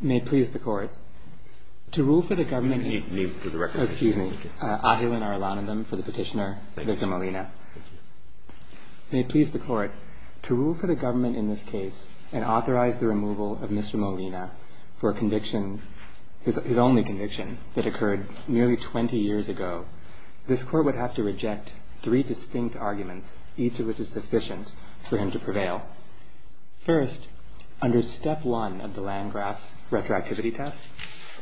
May it please the Court, to rule for the government in this case and authorize the removal of Mr. Molina for his only conviction that occurred nearly 20 years ago, this Court would have to reject three distinct arguments, each of which is sufficient for him to prevail. First, under step one of the Landgraf retroactivity test,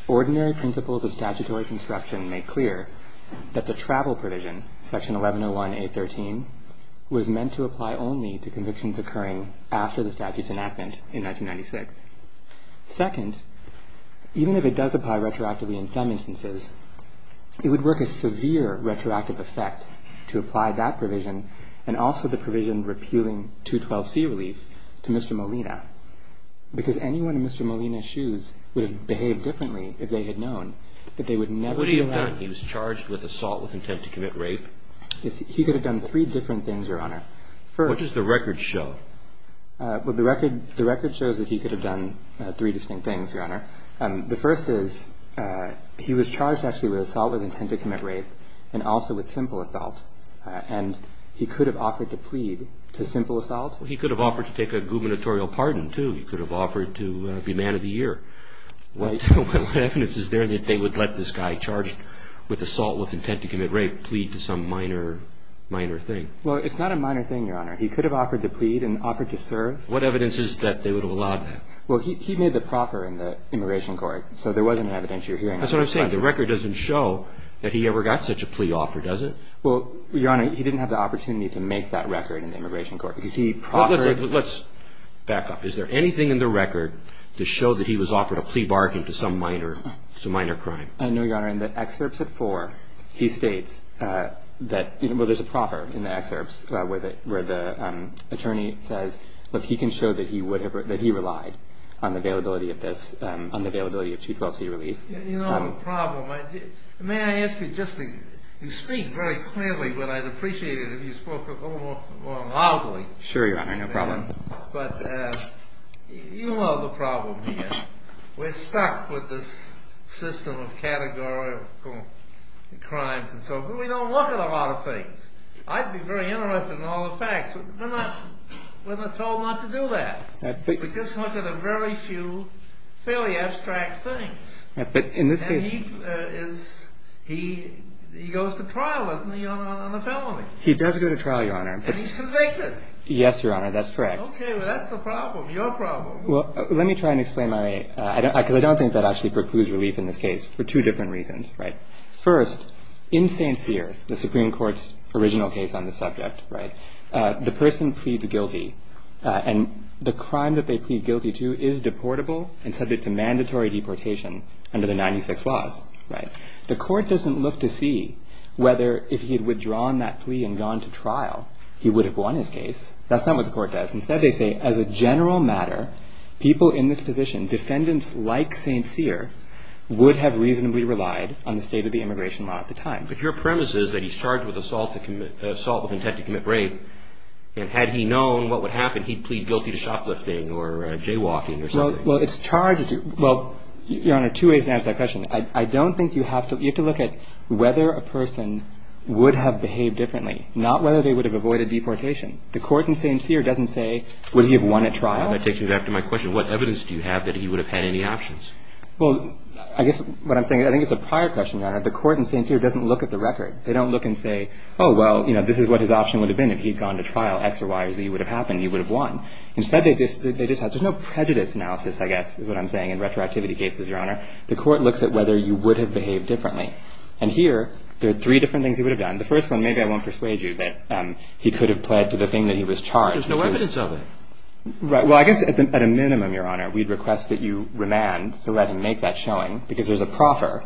ordinary principles of statutory construction make clear that the travel provision, section 1101A.13, was meant to apply only to convictions occurring after the statute's enactment in 1996. Second, even if it does apply retroactively in some instances, it would work a severe retroactive effect to apply that provision and also the provision repealing 212C relief to Mr. Molina, because anyone in Mr. Molina's shoes would have behaved differently if they had known that they would never be allowed. What would he have done? He was charged with assault with intent to commit rape? He could have done three different things, Your Honor. What does the record show? The record shows that he could have done three distinct things, Your Honor. The first is he was charged actually with assault with intent to commit rape and also with simple assault, and he could have offered to plead to simple assault? He could have offered to take a gubernatorial pardon, too. He could have offered to be man of the year. What evidence is there that they would let this guy charged with assault with intent to commit rape plead to some minor, minor thing? Well, it's not a minor thing, Your Honor. He could have offered to plead and offered to serve. What evidence is that they would have allowed that? Well, he made the proffer in the immigration court, so there wasn't evidence you're hearing. That's what I'm saying. The record doesn't show that he ever got such a plea offer, does it? Well, Your Honor, he didn't have the opportunity to make that record in the immigration court, because he proffered. Let's back up. Is there anything in the record to show that he was offered a plea bargain to some minor crime? No, Your Honor. Your Honor, in the excerpts of 4, he states that there's a proffer in the excerpts where the attorney says, look, he can show that he relied on the availability of this, on the availability of 212c relief. You know the problem. May I ask you just to speak very clearly, but I'd appreciate it if you spoke a little more loudly. Sure, Your Honor. No problem. But you know the problem here. We're stuck with this system of categorical crimes and so forth. We don't look at a lot of things. I'd be very interested in all the facts. We're not told not to do that. We just look at a very few fairly abstract things. And he goes to trial, doesn't he, on a felony? He does go to trial, Your Honor. And he's convicted. Yes, Your Honor, that's correct. Okay, well, that's the problem, your problem. Well, let me try and explain my, because I don't think that actually precludes relief in this case for two different reasons. First, in St. Cyr, the Supreme Court's original case on the subject, the person pleads guilty. And the crime that they plead guilty to is deportable and subject to mandatory deportation under the 96 laws. The court doesn't look to see whether, if he had withdrawn that plea and gone to trial, he would have won his case. That's not what the court does. Instead, they say, as a general matter, people in this position, defendants like St. Cyr, would have reasonably relied on the state of the immigration law at the time. But your premise is that he's charged with assault with intent to commit rape, and had he known what would happen, he'd plead guilty to shoplifting or jaywalking or something. Well, it's charged to, well, Your Honor, two ways to answer that question. I don't think you have to, you have to look at whether a person would have behaved differently, not whether they would have avoided deportation. The court in St. Cyr doesn't say, would he have won at trial. That takes me back to my question. What evidence do you have that he would have had any options? Well, I guess what I'm saying, I think it's a prior question, Your Honor. The court in St. Cyr doesn't look at the record. They don't look and say, oh, well, you know, this is what his option would have been if he'd gone to trial. X or Y or Z would have happened. He would have won. Instead, they just have, there's no prejudice analysis, I guess, is what I'm saying in retroactivity cases, Your Honor. The court looks at whether you would have behaved differently. And here, there are three different things he would have done. The first one, maybe I won't persuade you, but he could have pled to the thing that he was charged. But there's no evidence of it. Right. Well, I guess at a minimum, Your Honor, we'd request that you remand to let him make that showing because there's a proffer,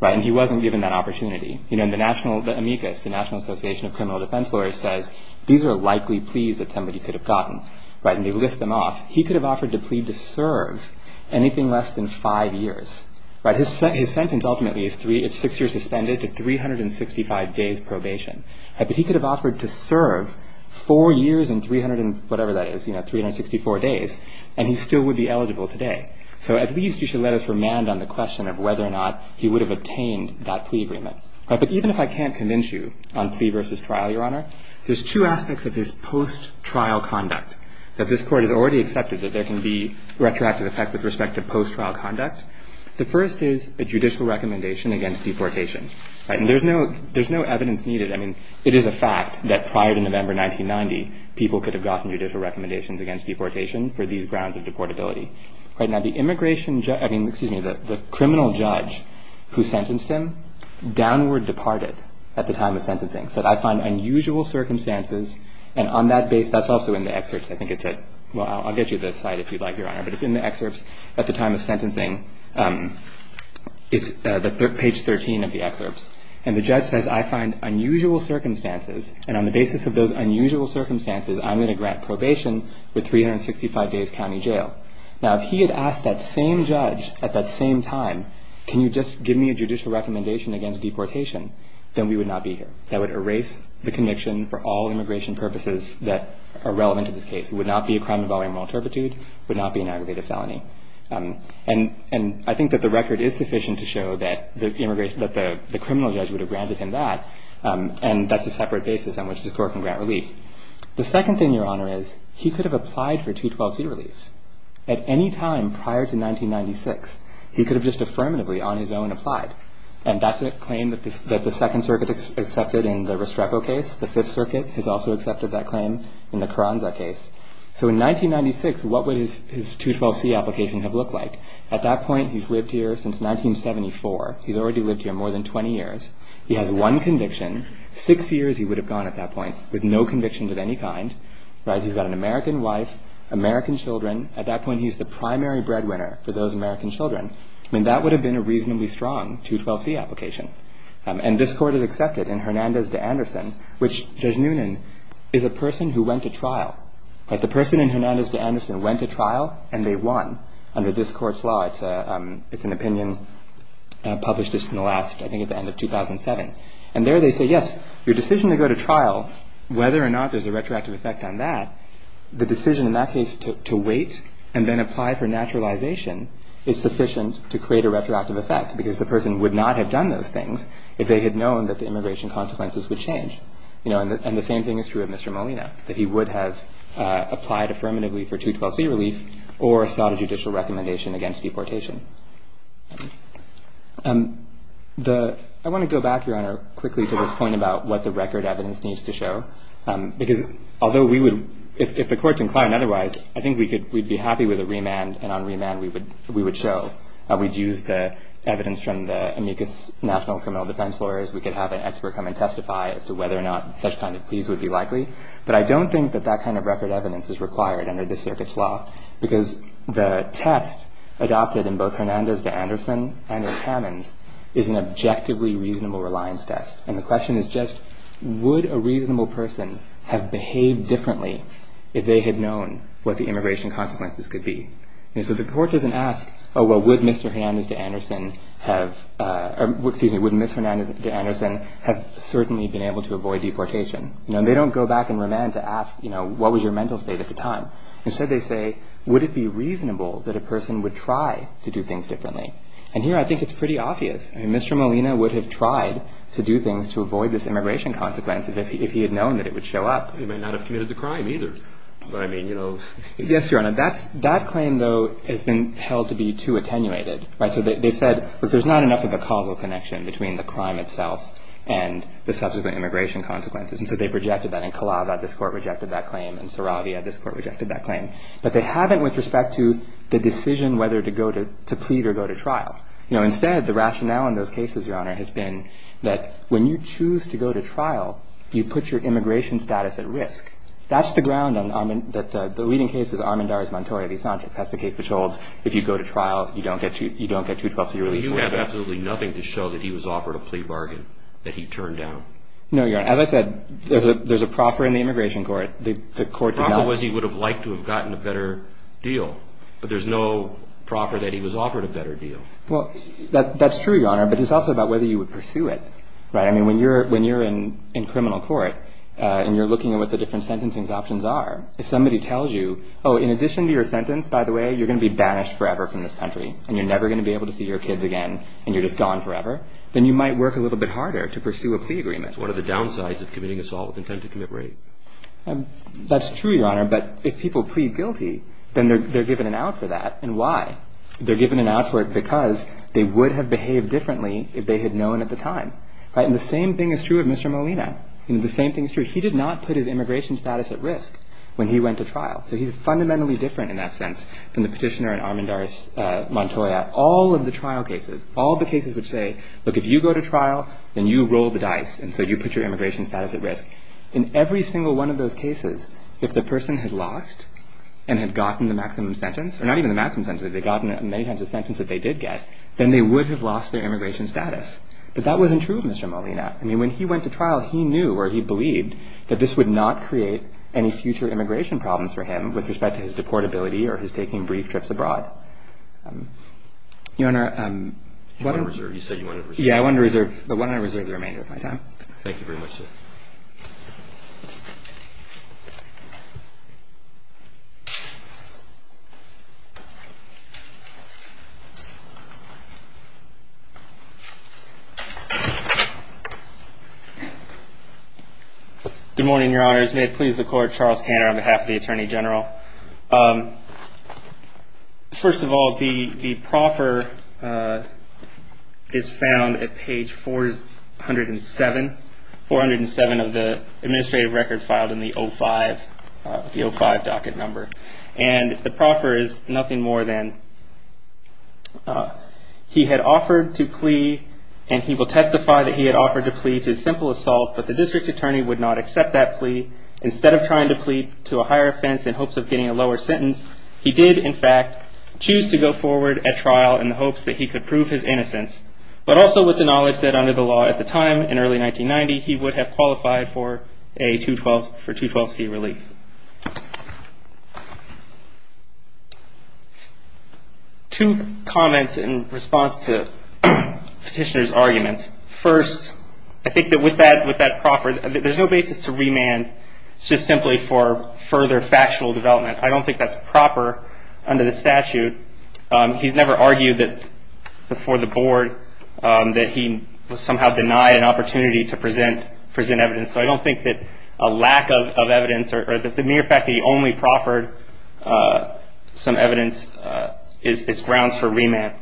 right, and he wasn't given that opportunity. You know, the national, the amicus, the National Association of Criminal Defense Lawyers says, these are likely pleas that somebody could have gotten, right, and they list them off. He could have offered to plead to serve anything less than five years. Right. His sentence ultimately is three, it's six years suspended to 365 days probation. But he could have offered to serve four years and 300 and whatever that is, you know, 364 days, and he still would be eligible today. So at least you should let us remand on the question of whether or not he would have attained that plea agreement. But even if I can't convince you on plea versus trial, Your Honor, there's two aspects of his post-trial conduct that this can be retroactive effect with respect to post-trial conduct. The first is a judicial recommendation against deportation. And there's no evidence needed. I mean, it is a fact that prior to November 1990, people could have gotten judicial recommendations against deportation for these grounds of deportability. Right. Now, the immigration judge, I mean, excuse me, the criminal judge who sentenced him, downward departed at the time of sentencing. So I find unusual circumstances. And on that base, that's also in the excerpts, I think it said. Well, I'll get you this slide if you'd like, Your Honor. But it's in the excerpts at the time of sentencing. It's page 13 of the excerpts. And the judge says, I find unusual circumstances. And on the basis of those unusual circumstances, I'm going to grant probation with 365 days county jail. Now, if he had asked that same judge at that same time, can you just give me a judicial recommendation against deportation, then we would not be here. That would erase the conviction for all immigration purposes that are relevant to this case. It would not be a crime involving moral turpitude. It would not be an aggravated felony. And I think that the record is sufficient to show that the criminal judge would have granted him that. And that's a separate basis on which this court can grant relief. The second thing, Your Honor, is he could have applied for 212C relief. At any time prior to 1996, he could have just affirmatively on his own applied. And that's a claim that the Second Circuit accepted in the Restrepo case. The Fifth Circuit has also accepted that claim in the Carranza case. So in 1996, what would his 212C application have looked like? At that point, he's lived here since 1974. He's already lived here more than 20 years. He has one conviction. Six years he would have gone at that point with no convictions of any kind. Right. He's got an American wife, American children. At that point, he's the primary breadwinner for those American children. I mean, that would have been a reasonably strong 212C application. And this court has accepted in Hernandez v. Anderson, which Judge Noonan is a person who went to trial. The person in Hernandez v. Anderson went to trial, and they won under this court's law. It's an opinion published just in the last, I think, at the end of 2007. And there they say, yes, your decision to go to trial, whether or not there's a retroactive effect on that, the decision in that case to wait and then apply for naturalization is sufficient to create a retroactive effect because the person would not have done those things if they had known that the immigration consequences would change. And the same thing is true of Mr. Molina, that he would have applied affirmatively for 212C relief or sought a judicial recommendation against deportation. I want to go back, Your Honor, quickly to this point about what the record evidence needs to show, because although we would, if the court's inclined otherwise, I think we'd be happy with a remand, and on remand we would show. We'd use the evidence from the amicus national criminal defense lawyers. We could have an expert come and testify as to whether or not such kind of pleas would be likely. But I don't think that that kind of record evidence is required under this circuit's law because the test adopted in both Hernandez v. Anderson and in Hammons is an objectively reasonable reliance test. And the question is just, would a reasonable person have behaved differently if they had known what the immigration consequences could be? And so the court doesn't ask, oh, well, would Mr. Hernandez v. Anderson have, excuse me, would Ms. Hernandez v. Anderson have certainly been able to avoid deportation? No, they don't go back in remand to ask, you know, what was your mental state at the time? Instead they say, would it be reasonable that a person would try to do things differently? And here I think it's pretty obvious. I mean, Mr. Molina would have tried to do things to avoid this immigration consequence if he had known that it would show up. He might not have committed the crime either. But I mean, you know. Yes, Your Honor. That claim, though, has been held to be too attenuated. Right? So they've said, look, there's not enough of a causal connection between the crime itself and the subsequent immigration consequences. And so they've rejected that. In Calava, this Court rejected that claim. In Saravia, this Court rejected that claim. But they haven't with respect to the decision whether to go to plead or go to trial. You know, instead, the rationale in those cases, Your Honor, has been that when you choose to go to trial, you put your immigration status at risk. That's the ground that the leading case is Armendariz-Montoya v. Sanchez. That's the case which holds if you go to trial, you don't get 212-C relief. But you have absolutely nothing to show that he was offered a plea bargain, that he turned down. No, Your Honor. As I said, there's a proffer in the immigration court. The court did not. The proffer was he would have liked to have gotten a better deal. But there's no proffer that he was offered a better deal. Well, that's true, Your Honor. But it's also about whether you would pursue it. Right? I mean, when you're in criminal court and you're looking at what the different sentencing options are, if somebody tells you, oh, in addition to your sentence, by the way, you're going to be banished forever from this country, and you're never going to be able to see your kids again, and you're just gone forever, then you might work a little bit harder to pursue a plea agreement. What are the downsides of committing assault with intent to commit rape? That's true, Your Honor. But if people plead guilty, then they're given an out for that. And why? They're given an out for it because they would have behaved differently if they had known at the time. And the same thing is true of Mr. Molina. The same thing is true. He did not put his immigration status at risk when he went to trial. So he's fundamentally different in that sense than the petitioner in Armendaris Montoya. All of the trial cases, all the cases which say, look, if you go to trial, then you roll the dice, and so you put your immigration status at risk. In every single one of those cases, if the person had lost and had gotten the maximum sentence, or not even the maximum sentence, if they'd gotten many times the sentence that they did get, then they would have lost their immigration status. But that wasn't true of Mr. Molina. I mean, when he went to trial, he knew, or he believed, that this would not create any future immigration problems for him with respect to his deportability or his taking brief trips abroad. Your Honor, what I'm going to reserve. You said you wanted to reserve. Yeah. I wanted to reserve the remainder of my time. Thank you very much, sir. Thank you. Good morning, Your Honors. May it please the Court, Charles Hanner on behalf of the Attorney General. First of all, the proffer is found at page 407, 407 of the administrative record filed in the 05, the 05 docket number. And the proffer is nothing more than he had offered to plea, and he will testify that he had offered to plea to a simple assault, instead of trying to plea to a higher offense in hopes of getting a lower sentence. He did, in fact, choose to go forward at trial in the hopes that he could prove his innocence, but also with the knowledge that under the law at the time, in early 1990, he would have qualified for a 212C relief. I think that with that proffer, there's no basis to remand. It's just simply for further factual development. I don't think that's proper under the statute. He's never argued before the Board that he somehow denied an opportunity to present evidence, so I don't think that a lack of evidence or the mere fact that he only proffered some evidence is grounds for remand.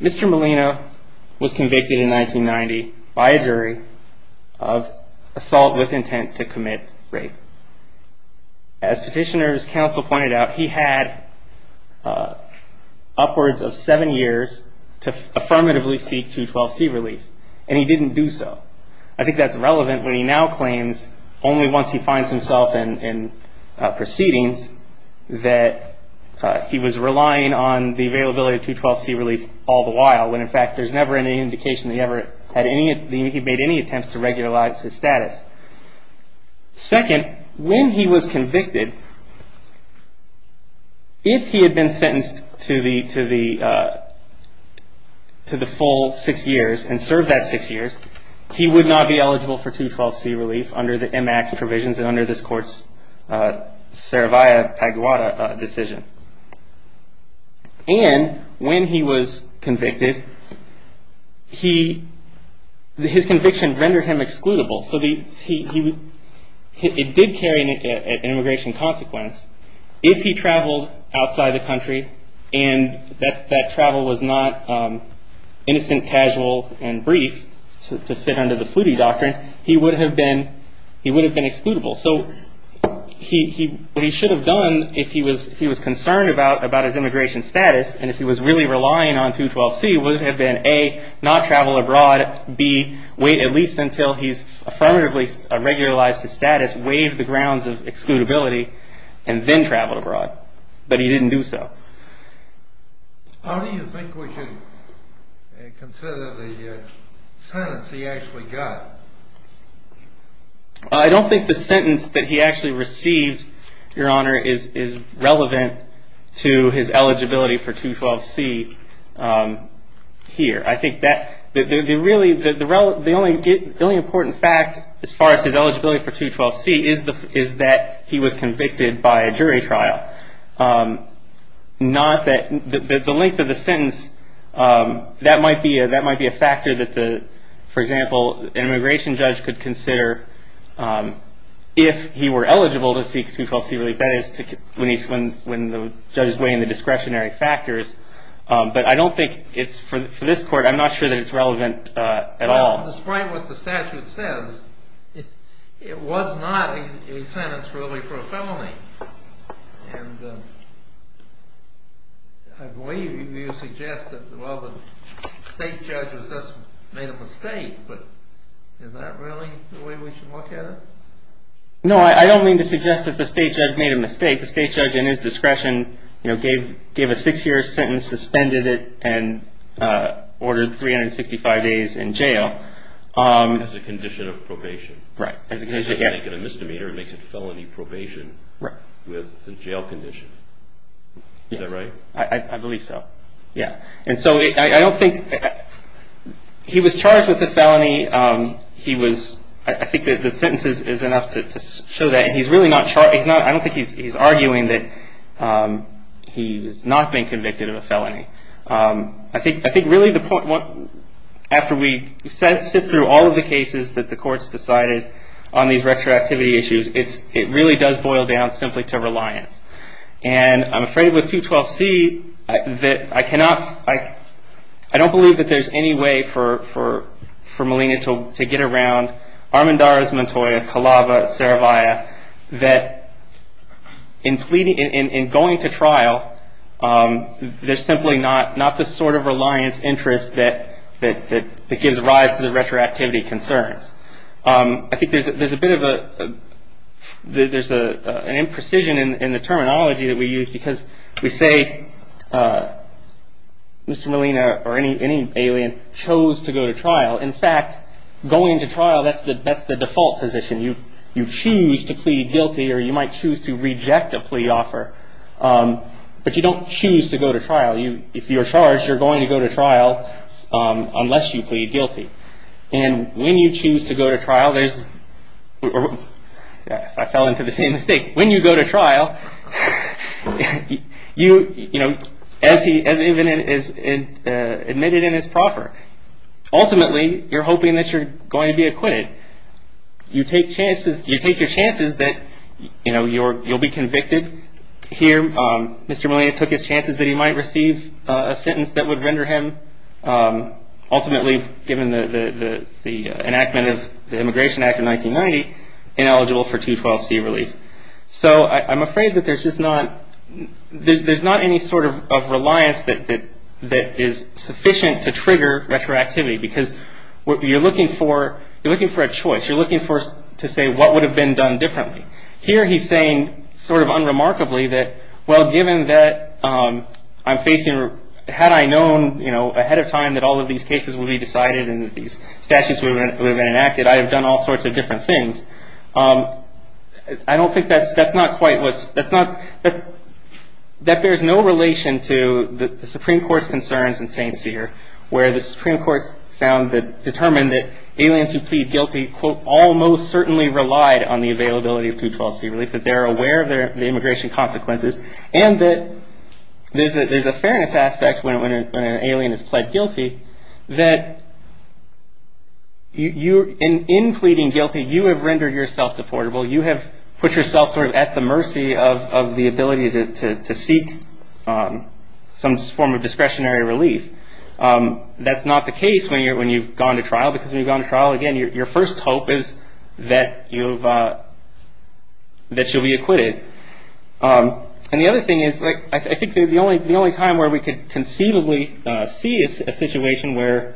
Mr. Molina was convicted in 1990 by a jury of assault with intent to commit rape. As Petitioner's Counsel pointed out, he had upwards of seven years to affirmatively seek 212C relief, and he didn't do so. I think that's relevant when he now claims, only once he finds himself in proceedings, that he was relying on the availability of 212C relief all the while, when, in fact, there's never any indication that he made any attempts to regularize his status. Second, when he was convicted, if he had been sentenced to the full six years and served that six years, he would not be eligible for 212C relief under the M.A.C.T. provisions and under this Court's Cerevia Paguita decision. And when he was convicted, his conviction rendered him excludable, so it did carry an immigration consequence if he traveled outside the country and that travel was not innocent, casual, and brief to fit under the Flutie doctrine, he would have been excludable. So what he should have done if he was concerned about his immigration status and if he was really relying on 212C would have been, A, not travel abroad, B, wait at least until he's affirmatively regularized his status, waive the grounds of excludability, and then travel abroad. But he didn't do so. How do you think we should consider the sentence he actually got? I don't think the sentence that he actually received, Your Honor, is relevant to his eligibility for 212C here. I think that the only important fact as far as his eligibility for 212C is that he was convicted by a jury trial. The length of the sentence, that might be a factor that, for example, an immigration judge could consider if he were eligible to seek 212C relief, that is when the judge is weighing the discretionary factors. But I don't think it's, for this court, I'm not sure that it's relevant at all. Despite what the statute says, it was not a sentence really for a felony. And I believe you suggest that, well, the state judge just made a mistake, but is that really the way we should look at it? No, I don't mean to suggest that the state judge made a mistake. I think the state judge, in his discretion, gave a six-year sentence, suspended it, and ordered 365 days in jail. As a condition of probation. Right. It doesn't make it a misdemeanor. It makes it felony probation with a jail condition. Is that right? I believe so, yeah. And so I don't think he was charged with a felony. I think that the sentence is enough to show that. I don't think he's arguing that he's not been convicted of a felony. I think really the point, after we sift through all of the cases that the courts decided on these retroactivity issues, it really does boil down simply to reliance. And I'm afraid with 212C that I cannot, I don't believe that there's any way for Malina to get around Armendariz Montoya, Calava, Saravia, that in going to trial, there's simply not the sort of reliance interest that gives rise to the retroactivity concerns. I think there's a bit of an imprecision in the terminology that we use, because we say Mr. Malina, or any alien, chose to go to trial. In fact, going to trial, that's the default position. You choose to plead guilty, or you might choose to reject a plea offer, but you don't choose to go to trial. If you're charged, you're going to go to trial unless you plead guilty. And when you choose to go to trial, there's, I fell into the same mistake. When you go to trial, as admitted in his proffer, ultimately you're hoping that you're going to be acquitted. You take chances, you take your chances that you'll be convicted. Here, Mr. Malina took his chances that he might receive a sentence that would render him ultimately, given the enactment of the Immigration Act of 1990, ineligible for 212C relief. I'm afraid that there's not any sort of reliance that is sufficient to trigger retroactivity, because you're looking for a choice. You're looking to say what would have been done differently. Here he's saying, sort of unremarkably, that given that I'm facing, had I known ahead of time that all of these cases would be decided and that these statutes would have been enacted, I have done all sorts of different things. I don't think that's, that's not quite what's, that's not, that there's no relation to the Supreme Court's concerns in St. Cyr, where the Supreme Court's found that, determined that aliens who plead guilty, quote, almost certainly relied on the availability of 212C relief, that they're aware of their, the immigration consequences, and that there's a, there's a fairness aspect when an alien is pled guilty, that you, in pleading guilty, you have rendered yourself deportable. You have put yourself sort of at the mercy of the ability to seek some form of discretionary relief. That's not the case when you're, when you've gone to trial, because when you've gone to trial, again, your first hope is that you've, that you'll be acquitted. And the other thing is, like, I think the only, the only time where we could conceivably see a situation where,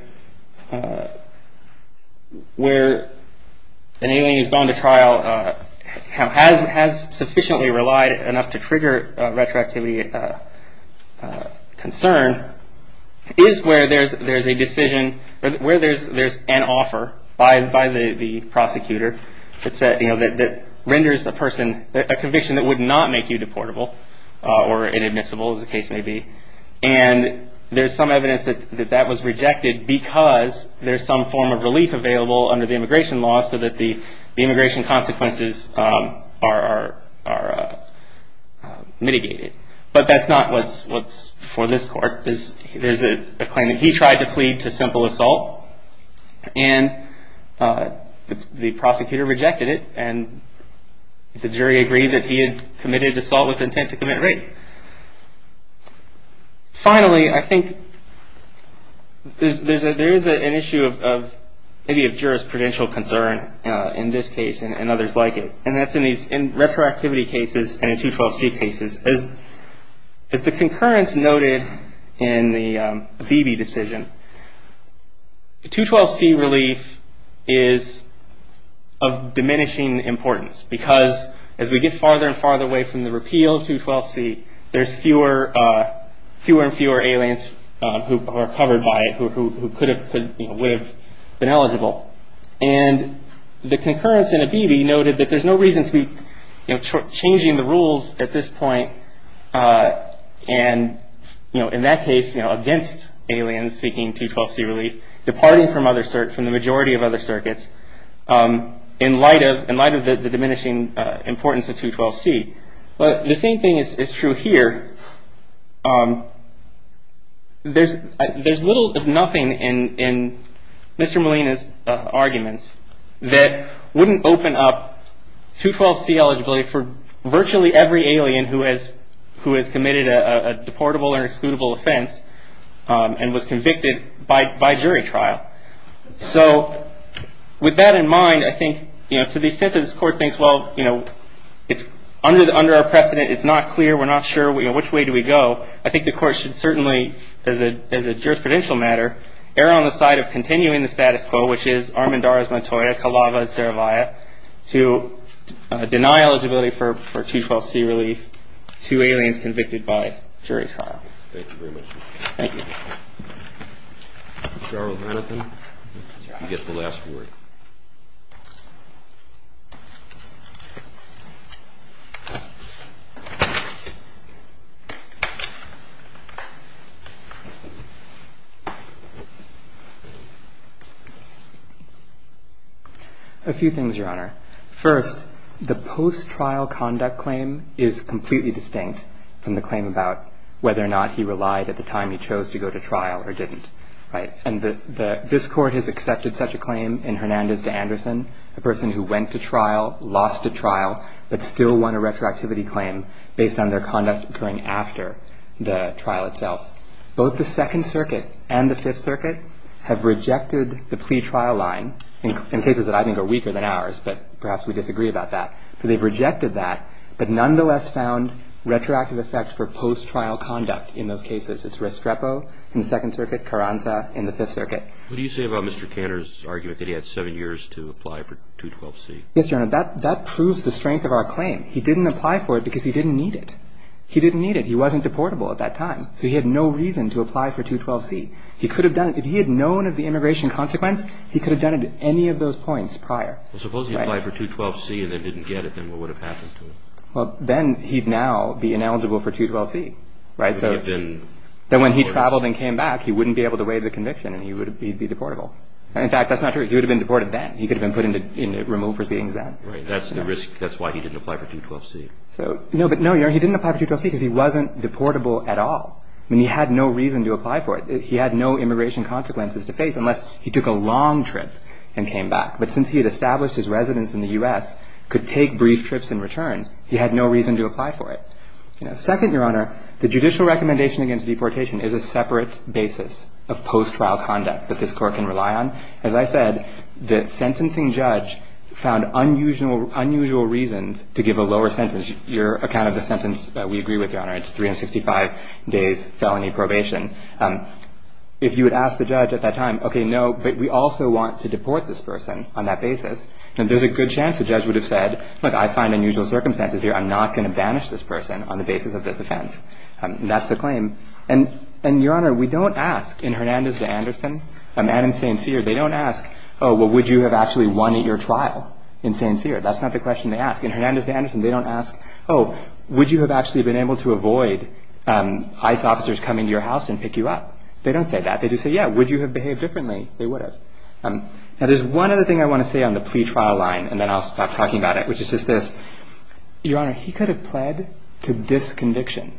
where an alien has gone to trial, has sufficiently relied enough to trigger retroactivity concern, is where there's, there's a decision, where there's, there's an offer by, by the prosecutor, it's a, you know, that, that renders a person, a conviction that would not make you deportable, or inadmissible, as the case may be. And there's some evidence that, that that was rejected, because there's some form of relief available under the immigration law, so that the, the immigration consequences are, are, are mitigated. But that's not what's, what's for this court. There's, there's a claim that he tried to plead to simple assault, and the prosecutor rejected it, and the jury agreed that he had committed assault with intent to commit rape. Finally, I think there's, there's a, there is an issue of, of, maybe of jurisprudential concern in this case, and others like it. And that's in these, in retroactivity cases, and in 212C cases. As, as the concurrence noted in the Abebe decision, a 212C relief is of diminishing importance, because as we get farther and farther away from the repeal of 212C, there's fewer, fewer and fewer aliens who are covered by it, who, who, who could have, could, you know, would have been eligible. And the concurrence in Abebe noted that there's no reason to be, you know, changing the rules at this point. And, you know, in that case, you know, against aliens seeking 212C relief, departing from other, from the majority of other circuits, in light of, in light of the diminishing importance of 212C. But the same thing is, is true here. There's, there's little if nothing in, in Mr. Molina's arguments that wouldn't open up 212C eligibility for virtually every alien who has, who has committed a, a deportable or excludable offense and was convicted by, by jury trial. So with that in mind, I think, you know, to the extent that this Court thinks, well, you know, it's under, under our precedent, it's not clear, we're not sure, you know, which way do we go, I think the Court should certainly, as a, as a jurisprudential matter, err on the side of continuing the status quo, which is Armendariz, Montoya, Calava, and Saravia, to deny eligibility for, for 212C relief to aliens convicted by jury trial. Thank you very much. Thank you. Mr. Arnold, you get the last word. A few things, Your Honor. First, the post-trial conduct claim is completely distinct from the claim about whether or not he relied at the time he chose to go to trial or didn't, right? And the, the, this Court has accepted such a claim in Hernandez v. Anderson, a person who went to trial, lost a trial, but still won a retroactivity claim based on their conduct occurring after the trial itself. Both the Second Circuit and the Fifth Circuit have rejected the plea trial line, in cases that I think are weaker than ours, but perhaps we disagree about that. They've rejected that, but nonetheless found retroactive effects for post-trial conduct in those cases. It's Restrepo in the Second Circuit, Carranza in the Fifth Circuit. What do you say about Mr. Cantor's argument that he had seven years to apply for 212C? Yes, Your Honor. That, that proves the strength of our claim. He didn't apply for it because he didn't need it. He didn't need it. He wasn't deportable at that time, so he had no reason to apply for 212C. He could have done it. If he had known of the immigration consequence, he could have done it at any of those points prior. Well, suppose he applied for 212C and then didn't get it. Then what would have happened to him? Well, then he'd now be ineligible for 212C, right? So then when he traveled and came back, he wouldn't be able to waive the conviction and he would be deportable. In fact, that's not true. He would have been deported then. He could have been put in the removed proceedings then. Right. That's the risk. That's why he didn't apply for 212C. So, no, but no, Your Honor, he didn't apply for 212C because he wasn't deportable at all. I mean, he had no reason to apply for it. He had no immigration consequences to face unless he took a long trip and came back. But since he had established his residence in the U.S., could take brief trips and return, he had no reason to apply for it. Second, Your Honor, the judicial recommendation against deportation is a separate basis of post-trial conduct that this Court can rely on. As I said, the sentencing judge found unusual reasons to give a lower sentence. Your account of the sentence, we agree with, Your Honor. It's 365 days felony probation. If you would ask the judge at that time, okay, no, but we also want to deport this person on that basis, then there's a good chance the judge would have said, look, I find unusual circumstances here. I'm not going to banish this person on the basis of this offense. That's the claim. And, Your Honor, we don't ask in Hernandez v. Anderson and in St. Cyr, they don't ask, oh, well, would you have actually won at your trial in St. Cyr? That's not the question they ask. In Hernandez v. Anderson, they don't ask, oh, would you have actually been able to avoid ICE officers coming to your house and pick you up? They don't say that. They just say, yeah, would you have behaved differently? They would have. Now, there's one other thing I want to say on the plea trial line, and then I'll stop talking about it, which is just this. Your Honor, he could have pled to this conviction.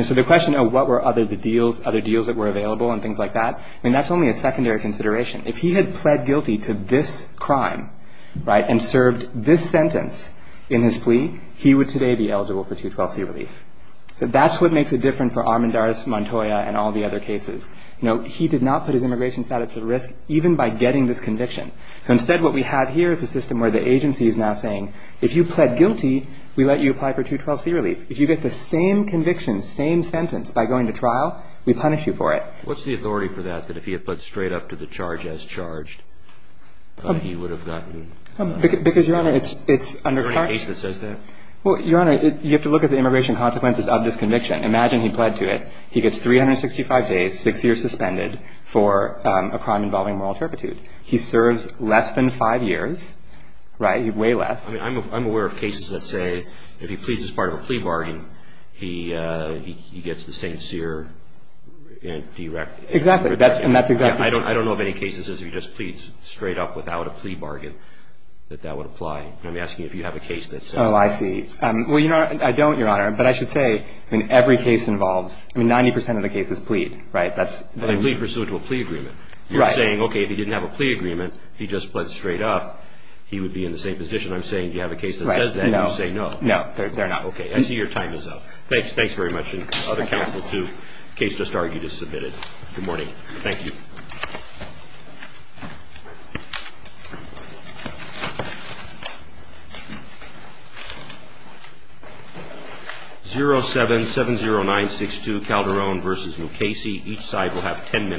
So the question of what were other deals that were available and things like that, I mean, that's only a secondary consideration. If he had pled guilty to this crime, right, and served this sentence in his plea, he would today be eligible for 212C relief. So that's what makes it different for Armendariz, Montoya, and all the other cases. You know, he did not put his immigration status at risk even by getting this conviction. So instead, what we have here is a system where the agency is now saying, if you pled guilty, we let you apply for 212C relief. If you get the same conviction, same sentence by going to trial, we punish you for it. What's the authority for that, that if he had pled straight up to the charge as charged, he would have gotten – Because, Your Honor, it's under – Is there any case that says that? Well, Your Honor, you have to look at the immigration consequences of this conviction. Imagine he pled to it. He gets 365 days, six years suspended for a crime involving moral turpitude. He serves less than five years, right, way less. I mean, I'm aware of cases that say if he pleads as part of a plea bargain, he gets the same SERE and DREC. Exactly. And that's exactly true. I don't know of any cases as if he just pleads straight up without a plea bargain that that would apply. I'm asking if you have a case that says that. Oh, I see. Well, I don't, Your Honor, but I should say, I mean, every case involves – I mean, 90 percent of the cases plead, right? But they plead pursuant to a plea agreement. Right. You're saying, okay, if he didn't have a plea agreement, he just pled straight up, he would be in the same position. I'm saying if you have a case that says that, you say no. No, they're not. Okay. I see your time is up. Thanks very much. And other counsel, too. Case just argued is submitted. Good morning. Thank you. 0770962 Calderon v. Mukasey. Each side will have ten minutes.